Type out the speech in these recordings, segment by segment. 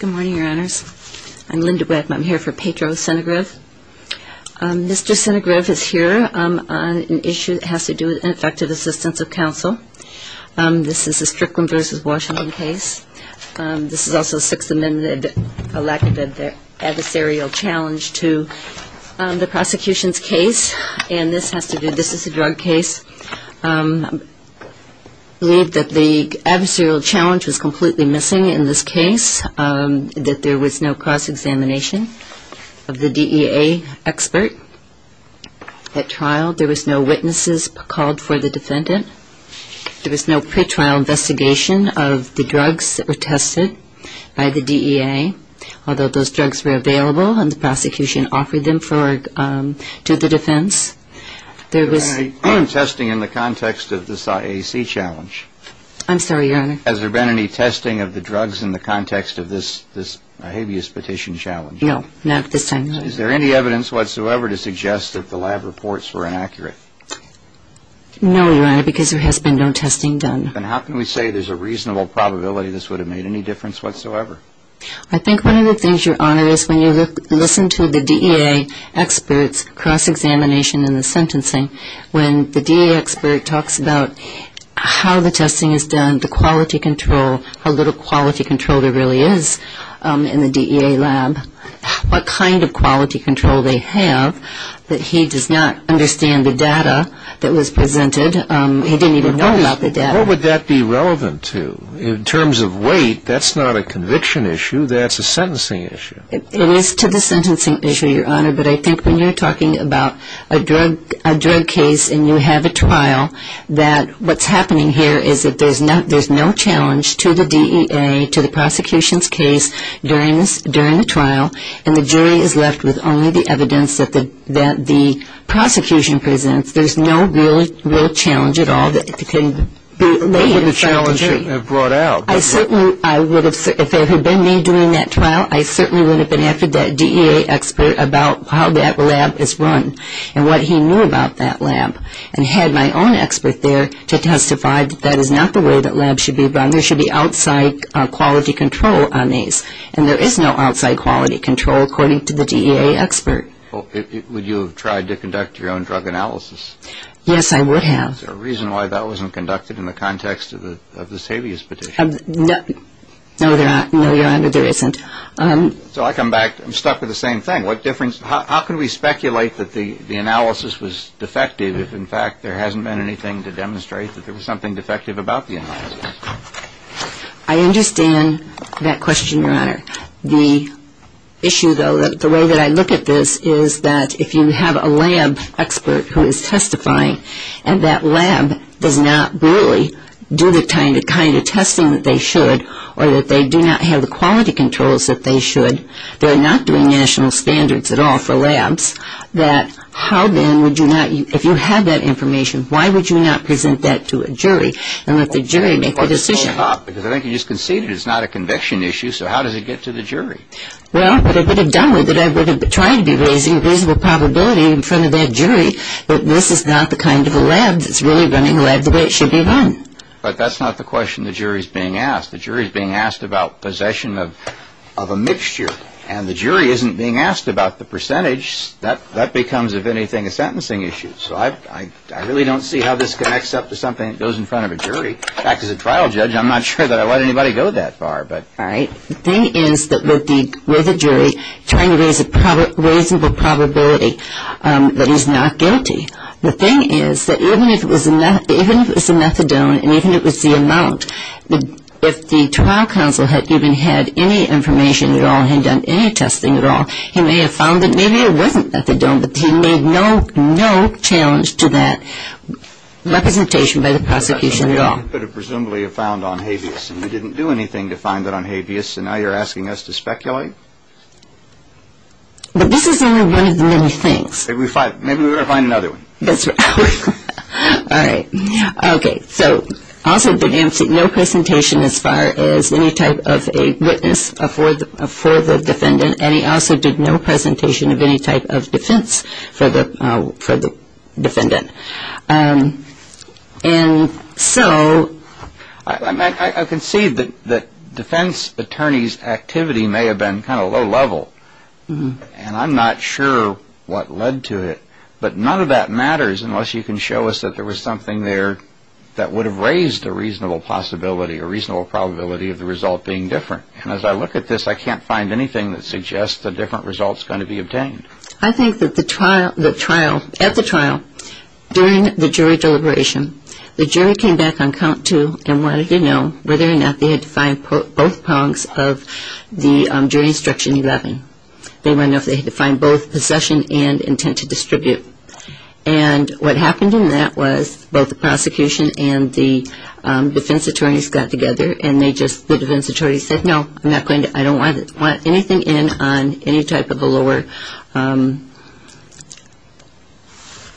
Good morning, your honors. I'm Linda Webb. I'm here for Petro Snegirev. Mr. Snegirev is here on an issue that has to do with ineffective assistance of counsel. This is a Strickland v. Washington case. This is also a Sixth Amendment-elected adversarial challenge to the prosecution's case, and this is a drug case. I believe that the adversarial challenge was completely missing in this case, that there was no cross-examination of the DEA expert at trial. There was no witnesses called for the defendant. There was no pre-trial investigation of the drugs that were tested by the DEA, although those drugs were available and the prosecution offered them to the defense. There was no testing in the context of this IAC challenge. I'm sorry, your honor. Has there been any testing of the drugs in the context of this habeas petition challenge? No, not at this time, no. Is there any evidence whatsoever to suggest that the lab reports were inaccurate? No, your honor, because there has been no testing done. Then how can we say there's a reasonable probability this would have made any difference whatsoever? I think one of the things, your honor, is when you listen to the DEA experts cross-examination in the sentencing, when the DEA expert talks about how the testing is done, the quality control there really is in the DEA lab, what kind of quality control they have, that he does not understand the data that was presented. He didn't even know about the data. What would that be relevant to? In terms of weight, that's not a conviction issue, that's a sentencing issue. It is to the sentencing issue, your honor, but I think when you're talking about a drug case and you have a trial, that what's happening here is that there's no challenge to the DEA, to the prosecution's case during the trial, and the jury is left with only the evidence that the prosecution presents. There's no real challenge at all that can be laid in front of the jury. What would the challenge have brought out? If it had been me doing that trial, I certainly would have been after that DEA expert about how that lab is run and what he knew about that lab and had my own expert there to testify that that is not the way that labs should be run. There should be outside quality control on these, and there is no outside quality control according to the DEA expert. Would you have tried to conduct your own drug analysis? Yes, I would have. Is there a reason why that wasn't conducted in the context of this habeas petition? No, your honor, there isn't. So I come back, I'm stuck with the same thing. What difference, how can we speculate that the analysis was defective if in anything to demonstrate that there was something defective about the analysis? I understand that question, your honor. The issue, though, the way that I look at this is that if you have a lab expert who is testifying and that lab does not really do the kind of testing that they should or that they do not have the quality controls that they should, they're not doing national standards at all for labs, that how then would you not, if you have that information, why would you not present that to a jury and let the jury make the decision? I think you just conceded it's not a conviction issue, so how does it get to the jury? Well, what I would have done with it, I would have tried to be raising a reasonable probability in front of that jury that this is not the kind of a lab that's really running a lab the way it should be run. But that's not the question the jury is being asked. The jury is being asked about possession of a mixture, and the jury isn't being asked about the percentage. That becomes, if anything, a sentencing issue. So I really don't see how this connects up to something that goes in front of a jury. In fact, as a trial judge, I'm not sure that I'd let anybody go that far. All right. The thing is that with the jury trying to raise a reasonable probability that he's not guilty, the thing is that even if it was a methadone and even if it was the amount, if the trial counsel had even had any information at all, had done any testing at all, he may have found that maybe it wasn't methadone, but he made no challenge to that representation by the prosecution at all. But it presumably found on habeas, and we didn't do anything to find that on habeas, and now you're asking us to speculate? But this is only one of the many things. Maybe we've got to find another one. That's right. All right. Okay. So also did no presentation as far as any type of a witness for the defendant, and he also did no presentation of any type of defense for the defendant. And so... I can see that defense attorney's activity may have been kind of low level, and I'm not sure what led to it, but none of that matters unless you can show us that there was something there that would have raised a reasonable possibility, a reasonable probability of the result being different. And as I look at this, I can't find anything that suggests a different result's going to be obtained. I think that at the trial, during the jury deliberation, the jury came back on count two and wanted to know whether or not they had to find both prongs of the jury instruction 11. They wanted to know if they had to find both possession and intent to distribute. And what happened in that was both the prosecution and the defense attorneys got together, and they just... The defense attorney said, no, I'm not going to... I don't want anything in on any type of a lower...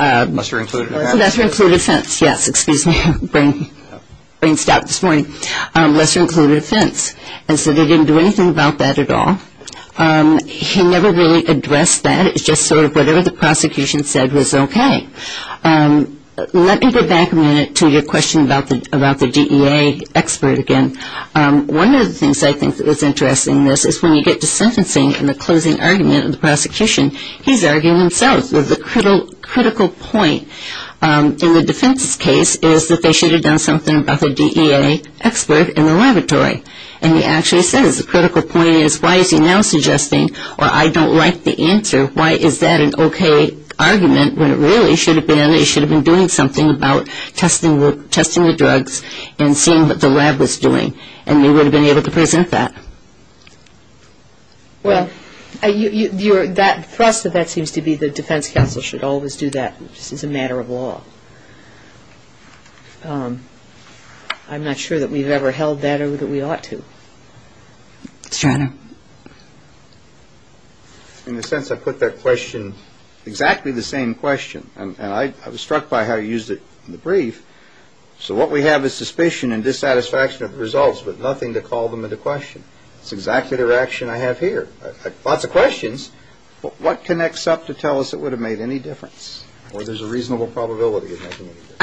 Lesser-included offense. Lesser-included offense. Yes, excuse me. Brain stopped this morning. Lesser-included offense. And so they didn't do anything about that at all. He never really addressed that. It was just sort of whatever the prosecution said was okay. Let me go back a minute to your question about the DEA expert again. One of the things I think that was interesting in this is when you get to sentencing and the closing argument of the prosecution, he's arguing himself. The critical point in the defense's case is that they should have done something about the DEA expert in the laboratory. And he actually says the critical point is why is he now suggesting, or I don't like the answer, why is that an okay argument when it really should have been they should have been doing something about testing the drugs and seeing what the lab was doing. And they would have been able to present that. Well, that thrust of that seems to be the defense counsel should always do that. It's a matter of law. I'm not sure that we've ever held that or that we ought to. In a sense, I put that question, exactly the same question. And I was struck by how you used it in the brief. So what we have is suspicion and dissatisfaction of results, but nothing to call them into question. It's exactly the reaction I have here. Lots of questions, but what connects up to tell us it would have made any difference? Or there's a reasonable probability of making a difference.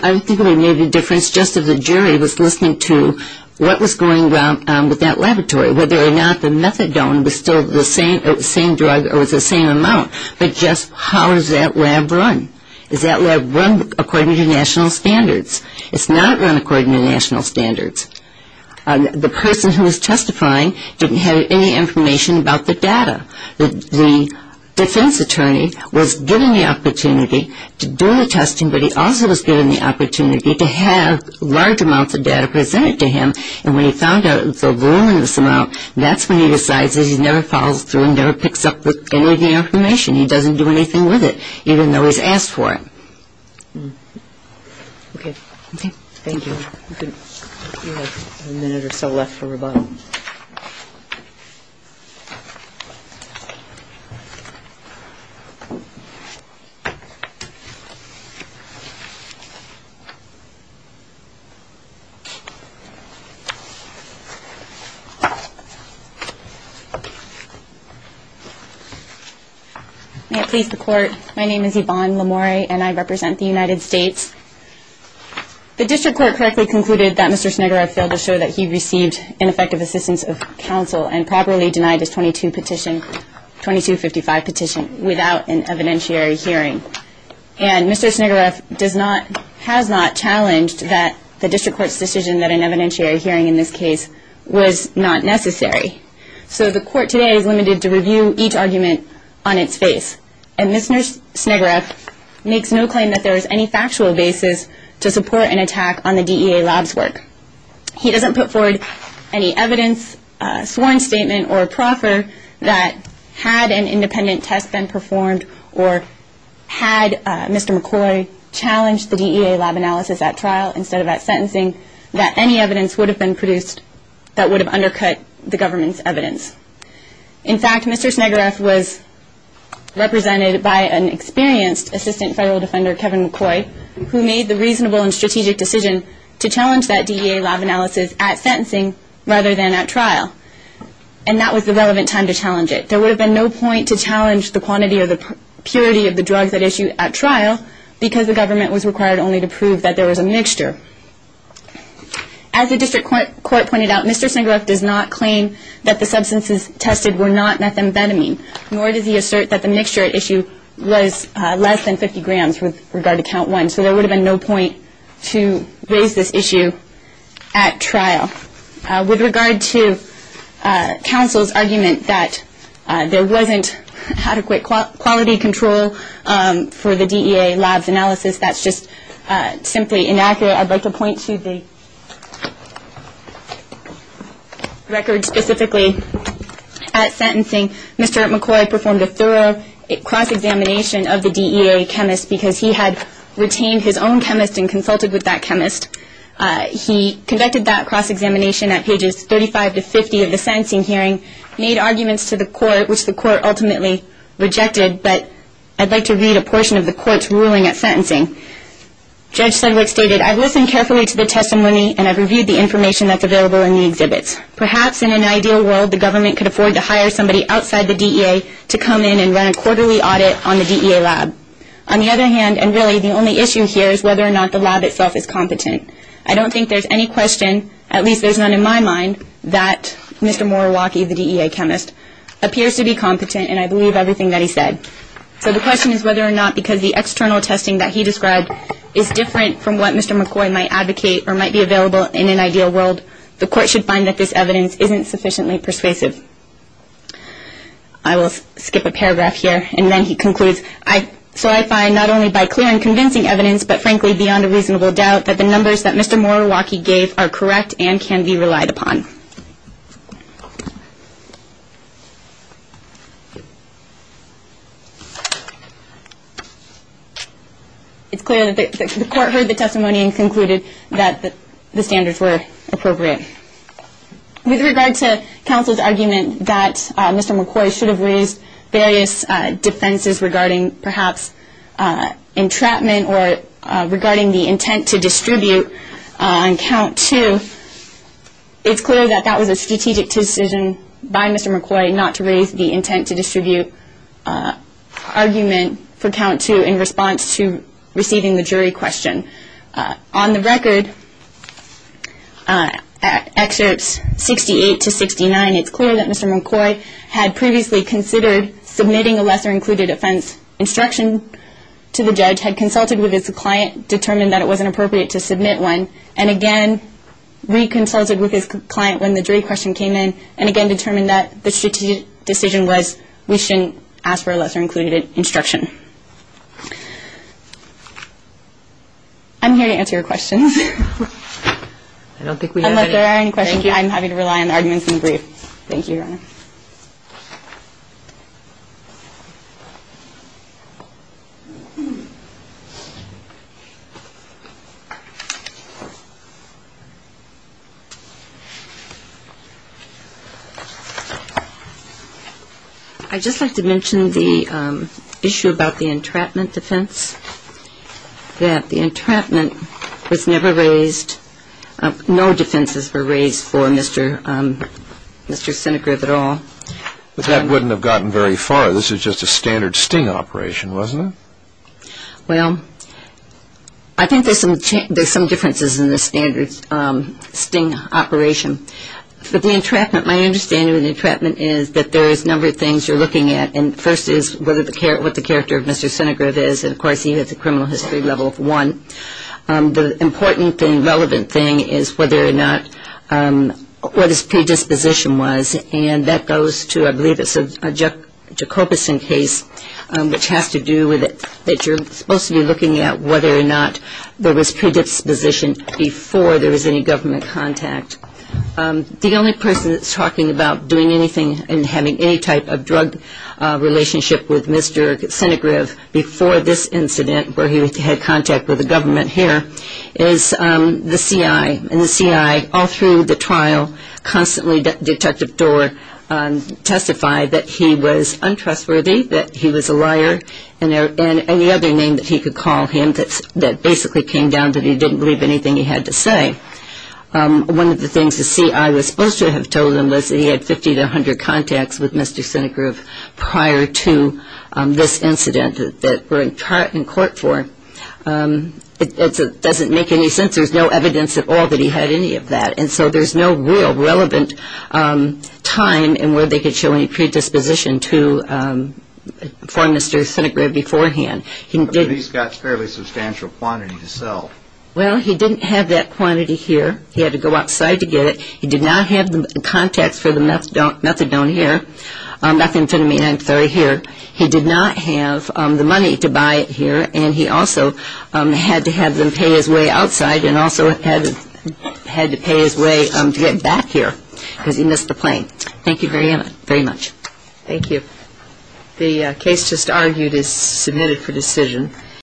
I think it would have made a difference just if the jury was listening to what was going on with that laboratory, whether or not the methadone was still the same drug or was the same amount. But just how does that lab run? Does that lab run according to national standards? It's not run according to national standards. The person who was testifying didn't have any information about the data. The defense attorney was given the opportunity to do the testing, but he also was given the opportunity to have large amounts of data presented to him. And when he found out it was a voluminous amount, that's when he decides that he never follows through and never picks up any of the information. He doesn't do anything with it, even though he's asked for it. Okay. Thank you. We have a minute or so left for rebuttal. May it please the Court. My name is Yvonne Lamore, and I represent the United States. The district court correctly concluded that Mr. Schneider had failed to show that he received ineffective assistance of counsel and properly denied his 2255 petition without an evidentiary hearing. And Mr. Schneider has not challenged the district court's decision that an evidentiary hearing in this case was not necessary. So the Court today is limited to review each argument on its face. And Mr. Schneider makes no claim that there is any factual basis to support an attack on the DEA lab's work. He doesn't put forward any evidence, sworn statement, or proffer that had an independent test been performed or had Mr. McCoy challenged the DEA lab analysis at trial instead of at sentencing, that any evidence would have been produced that would have undercut the government's evidence. In fact, Mr. Schneider was represented by an experienced assistant federal defender, Kevin McCoy, who made the reasonable and strategic decision to challenge that DEA lab analysis at sentencing rather than at trial. And that was the relevant time to challenge it. There would have been no point to challenge the quantity or the purity of the drugs at issue at trial because the government was required only to prove that there was a mixture. As the district court pointed out, Mr. Schneider does not claim that the substances tested were not methamphetamine, nor does he assert that the mixture at issue was less than 50 grams with regard to count one. So there would have been no point to raise this issue at trial. With regard to counsel's argument that there wasn't adequate quality control for the DEA lab's analysis, that's just simply inaccurate. I'd like to point to the record specifically at sentencing. Mr. McCoy performed a thorough cross-examination of the DEA chemist because he had retained his own chemist and consulted with that chemist. He conducted that cross-examination at pages 35 to 50 of the sentencing hearing, made arguments to the court, which the court ultimately rejected, but I'd like to read a portion of the court's ruling at sentencing. Judge Sedgwick stated, I've listened carefully to the testimony and I've reviewed the information that's available in the exhibits. Perhaps in an ideal world, the government could afford to hire somebody outside the DEA to come in and run a quarterly audit on the DEA lab. On the other hand, and really the only issue here is whether or not the lab itself is competent. I don't think there's any question, at least there's none in my mind, that Mr. Moriwaki, the DEA chemist, appears to be competent, and I believe everything that he said. So the question is whether or not because the external testing that he described is different from what Mr. McCoy might advocate or might be available in an ideal world, the court should find that this evidence isn't sufficiently persuasive. I will skip a paragraph here, and then he concludes, So I find, not only by clear and convincing evidence, but frankly beyond a reasonable doubt, that the numbers that Mr. Moriwaki gave are correct and can be relied upon. It's clear that the court heard the testimony and concluded that the standards were appropriate. With regard to counsel's argument that Mr. McCoy should have raised various defenses regarding perhaps entrapment or regarding the intent to distribute on count two, it's clear that that was a strategic decision by Mr. McCoy not to raise the intent to distribute argument for count two in response to receiving the jury question. On the record, at excerpts 68 to 69, it's clear that Mr. McCoy had previously considered submitting a lesser-included offense instruction to the judge, had consulted with his client, determined that it wasn't appropriate to submit one, and again reconsulted with his client when the jury question came in, and again determined that the strategic decision was we shouldn't ask for a lesser-included instruction. I'm here to answer your questions. I don't think we have any. Unless there are any questions, I'm happy to rely on the arguments in the brief. Thank you, Your Honor. I'd just like to mention the issue about the entrapment defense, that the entrapment was never raised, no defenses were raised for Mr. Senegrieve at all. But that wouldn't have gotten very far. This was just a standard sting operation, wasn't it? Well, I think there's some differences in the standard sting operation. For the entrapment, my understanding of the entrapment is that there is a number of things you're looking at, and the first is what the character of Mr. Senegrieve is, and, of course, he has a criminal history level of one. The important and relevant thing is whether or not what his predisposition was, and that goes to, I believe it's a Jacobuson case, which has to do with that you're supposed to be looking at whether or not there was predisposition before there was any government contact. The only person that's talking about doing anything and having any type of drug relationship with Mr. Senegrieve before this incident, where he had contact with the government here, is the C.I., and the C.I. all through the trial constantly at the detective door testified that he was untrustworthy, that he was a liar, and any other name that he could call him that basically came down that he didn't believe anything he had to say. One of the things the C.I. was supposed to have told him was that he had 50 to 100 contacts with Mr. Senegrieve prior to this incident that we're in court for. It doesn't make any sense. There's no evidence at all that he had any of that, and so there's no real relevant time in where they could show any predisposition for Mr. Senegrieve beforehand. The police got a fairly substantial quantity to sell. Well, he didn't have that quantity here. He had to go outside to get it. He did not have the contacts for the methadone here, methamphetamine and methadone here. He did not have the money to buy it here, and he also had to have them pay his way outside and also had to pay his way to get back here because he missed the plane. Thank you very much. Thank you. The case just argued is submitted for decision.